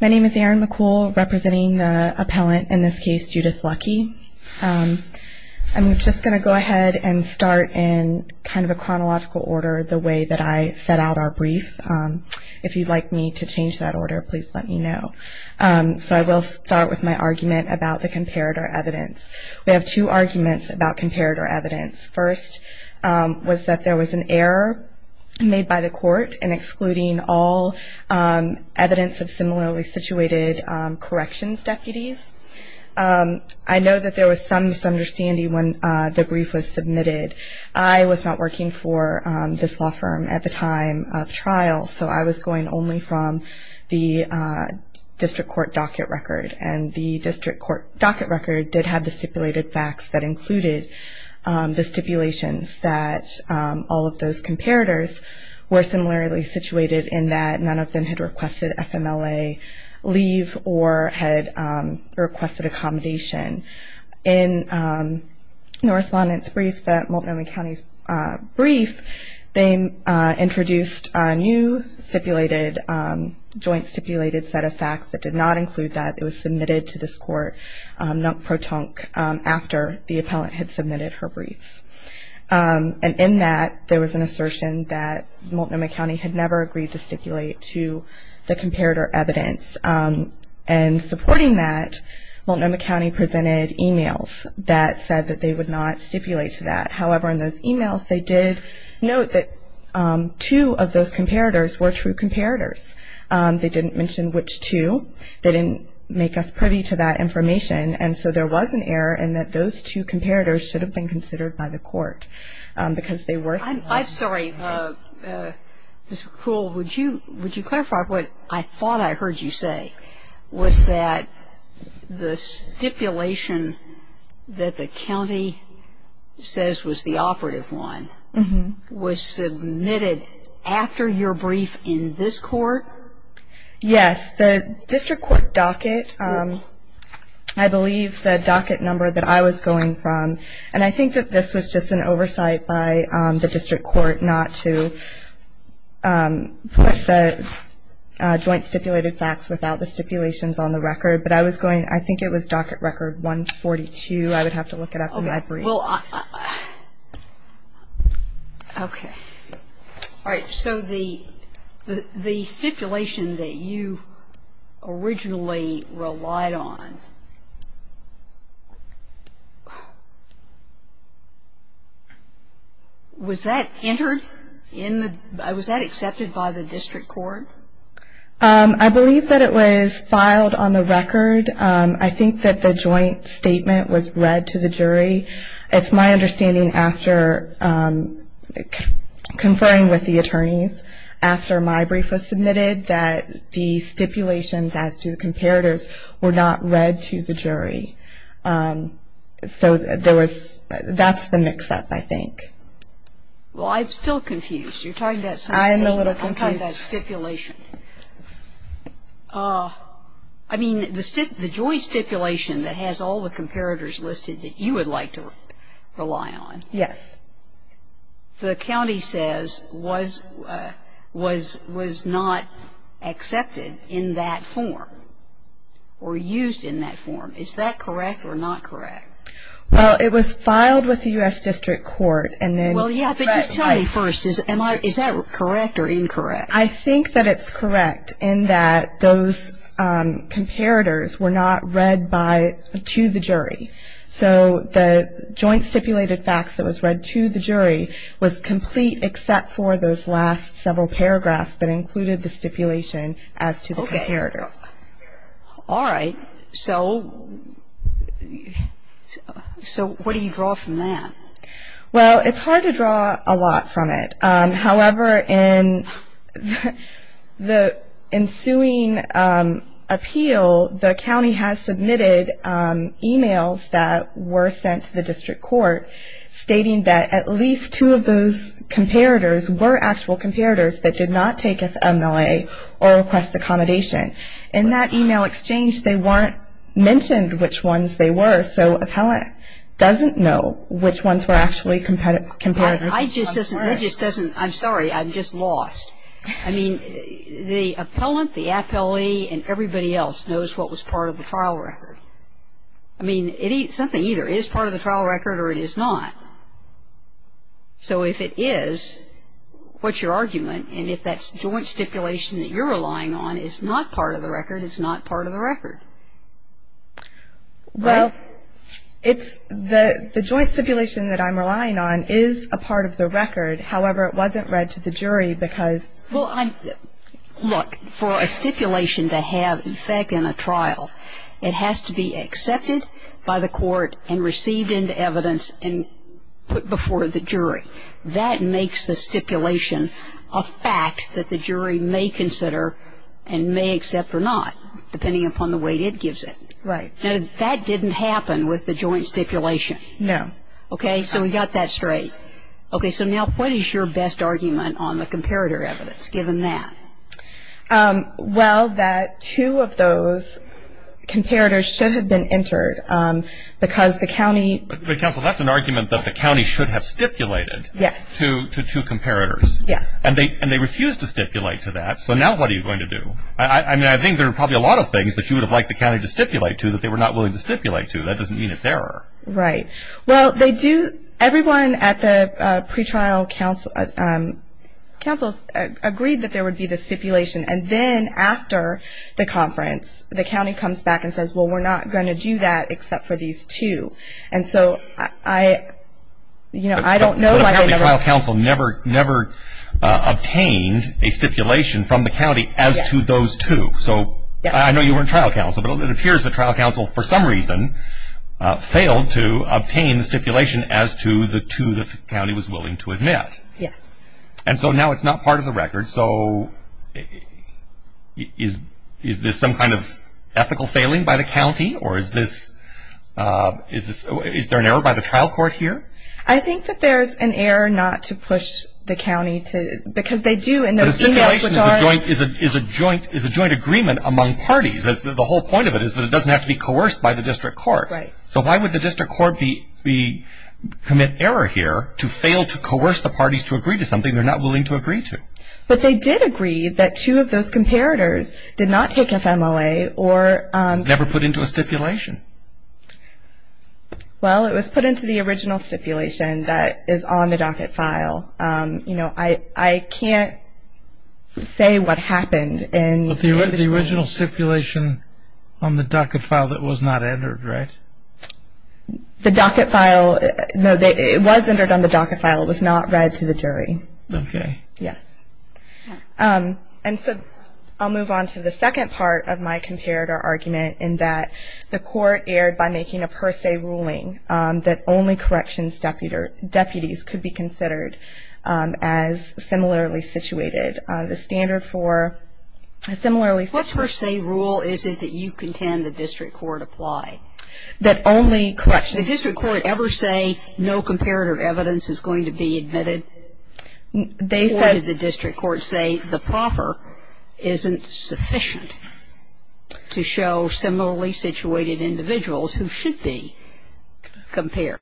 My name is Erin McCool, representing the appellant, in this case, Judith Lucke. I'm just going to go ahead and start in kind of a chronological order the way that I set out our brief. If you'd like me to change that order, please let me know. So I will start with my argument about the comparator evidence. We have two arguments about comparator evidence. First was that there was an error made by the court in excluding all evidence of similarly situated corrections deputies. I know that there was some misunderstanding when the brief was submitted. I was not working for this law firm at the time of trial, so I was going only from the district court docket record, and the district court docket record did have the stipulated facts that included the stipulations that all of those comparators were similarly situated in that none of them had requested FMLA leave or had requested accommodation. In the respondent's brief, the Multnomah County's brief, they introduced a new stipulated, joint stipulated set of facts that did not include that. It was submitted to this court non-protonque after the appellant had submitted her brief. And in that, there was an assertion that Multnomah County had never agreed to stipulate to the comparator evidence. And supporting that, Multnomah County presented emails that said that they would not stipulate to that. However, in those emails, they did note that two of those comparators were true comparators. They didn't mention which two. They didn't make us privy to that information. And so there was an error in that those two comparators should have been considered by the court because they were. I'm sorry. Would you clarify what I thought I heard you say? Was that the stipulation that the county says was the operative one was submitted after your brief in this court? Yes. The district court docket, I believe the docket number that I was going from, and I think that this was just an oversight by the district court not to put the joint stipulated facts without the stipulations on the record, but I was going, I think it was docket record 142. I would have to look it up. Okay. All right. So the stipulation that you originally relied on, was that entered in the, was that accepted by the district court? I believe that it was filed on the record. I think that the joint statement was read to the jury. It's my understanding after conferring with the attorneys after my brief was submitted that the stipulations as to the comparators were not read to the jury. So there was, that's the mix-up, I think. Well, I'm still confused. You're talking about some statement. I'm a little confused. I'm talking about stipulation. I mean, the joint stipulation that has all the comparators listed that you would like to rely on. Yes. The county says was not accepted in that form or used in that form. Is that correct or not correct? Well, it was filed with the U.S. District Court and then. Well, yeah, but just tell me first, is that correct or incorrect? I think that it's correct in that those comparators were not read by, to the jury. So the joint stipulated facts that was read to the jury was complete except for those last several paragraphs that included the stipulation as to the comparators. Okay. All right. So what do you draw from that? Well, it's hard to draw a lot from it. However, in the ensuing appeal, the county has submitted e-mails that were sent to the district court stating that at least two of those comparators were actual comparators that did not take FMLA or request accommodation. In that e-mail exchange, they weren't mentioned which ones they were, so an appellant doesn't know which ones were actually comparators. I just doesn't. I'm sorry. I'm just lost. I mean, the appellant, the appellee, and everybody else knows what was part of the trial record. I mean, it's something either. It is part of the trial record or it is not. So if it is, what's your argument? And if that joint stipulation that you're relying on is not part of the record, it's not part of the record. Well, it's the joint stipulation that I'm relying on is a part of the record. However, it wasn't read to the jury because. Well, look, for a stipulation to have effect in a trial, it has to be accepted by the court and received into evidence and put before the jury. That makes the stipulation a fact that the jury may consider and may accept or not, depending upon the way it gives it. Right. Now, that didn't happen with the joint stipulation. No. Okay. So we got that straight. Okay. So now what is your best argument on the comparator evidence, given that? Well, that two of those comparators should have been entered because the county. But, counsel, that's an argument that the county should have stipulated. Yes. To two comparators. Yes. And they refused to stipulate to that, so now what are you going to do? I mean, I think there are probably a lot of things that you would have liked the county to stipulate to that they were not willing to stipulate to. That doesn't mean it's error. Right. Well, everyone at the pretrial council agreed that there would be the stipulation, and then after the conference, the county comes back and says, well, we're not going to do that except for these two. And so I don't know. The trial council never obtained a stipulation from the county as to those two. So I know you were in trial council, but it appears the trial council for some reason failed to obtain the stipulation as to the two that the county was willing to admit. Yes. And so now it's not part of the record. So is this some kind of ethical failing by the county, or is there an error by the trial court here? I think that there's an error not to push the county, because they do in those e-mails. But a stipulation is a joint agreement among parties. The whole point of it is that it doesn't have to be coerced by the district court. Right. So why would the district court commit error here to fail to coerce the parties to agree to something they're not willing to agree to? But they did agree that two of those comparators did not take FMLA or… Never put into a stipulation. Well, it was put into the original stipulation that is on the docket file. You know, I can't say what happened in… The original stipulation on the docket file that was not entered, right? The docket file, no, it was entered on the docket file. It was not read to the jury. Okay. Yes. And so I'll move on to the second part of my comparator argument, in that the court erred by making a per se ruling that only corrections deputies could be considered as similarly situated. The standard for similarly… What per se rule is it that you contend the district court applied? That only corrections… Did the district court ever say no comparator evidence is going to be admitted? Or did the district court say the proffer isn't sufficient to show similarly situated individuals who should be compared?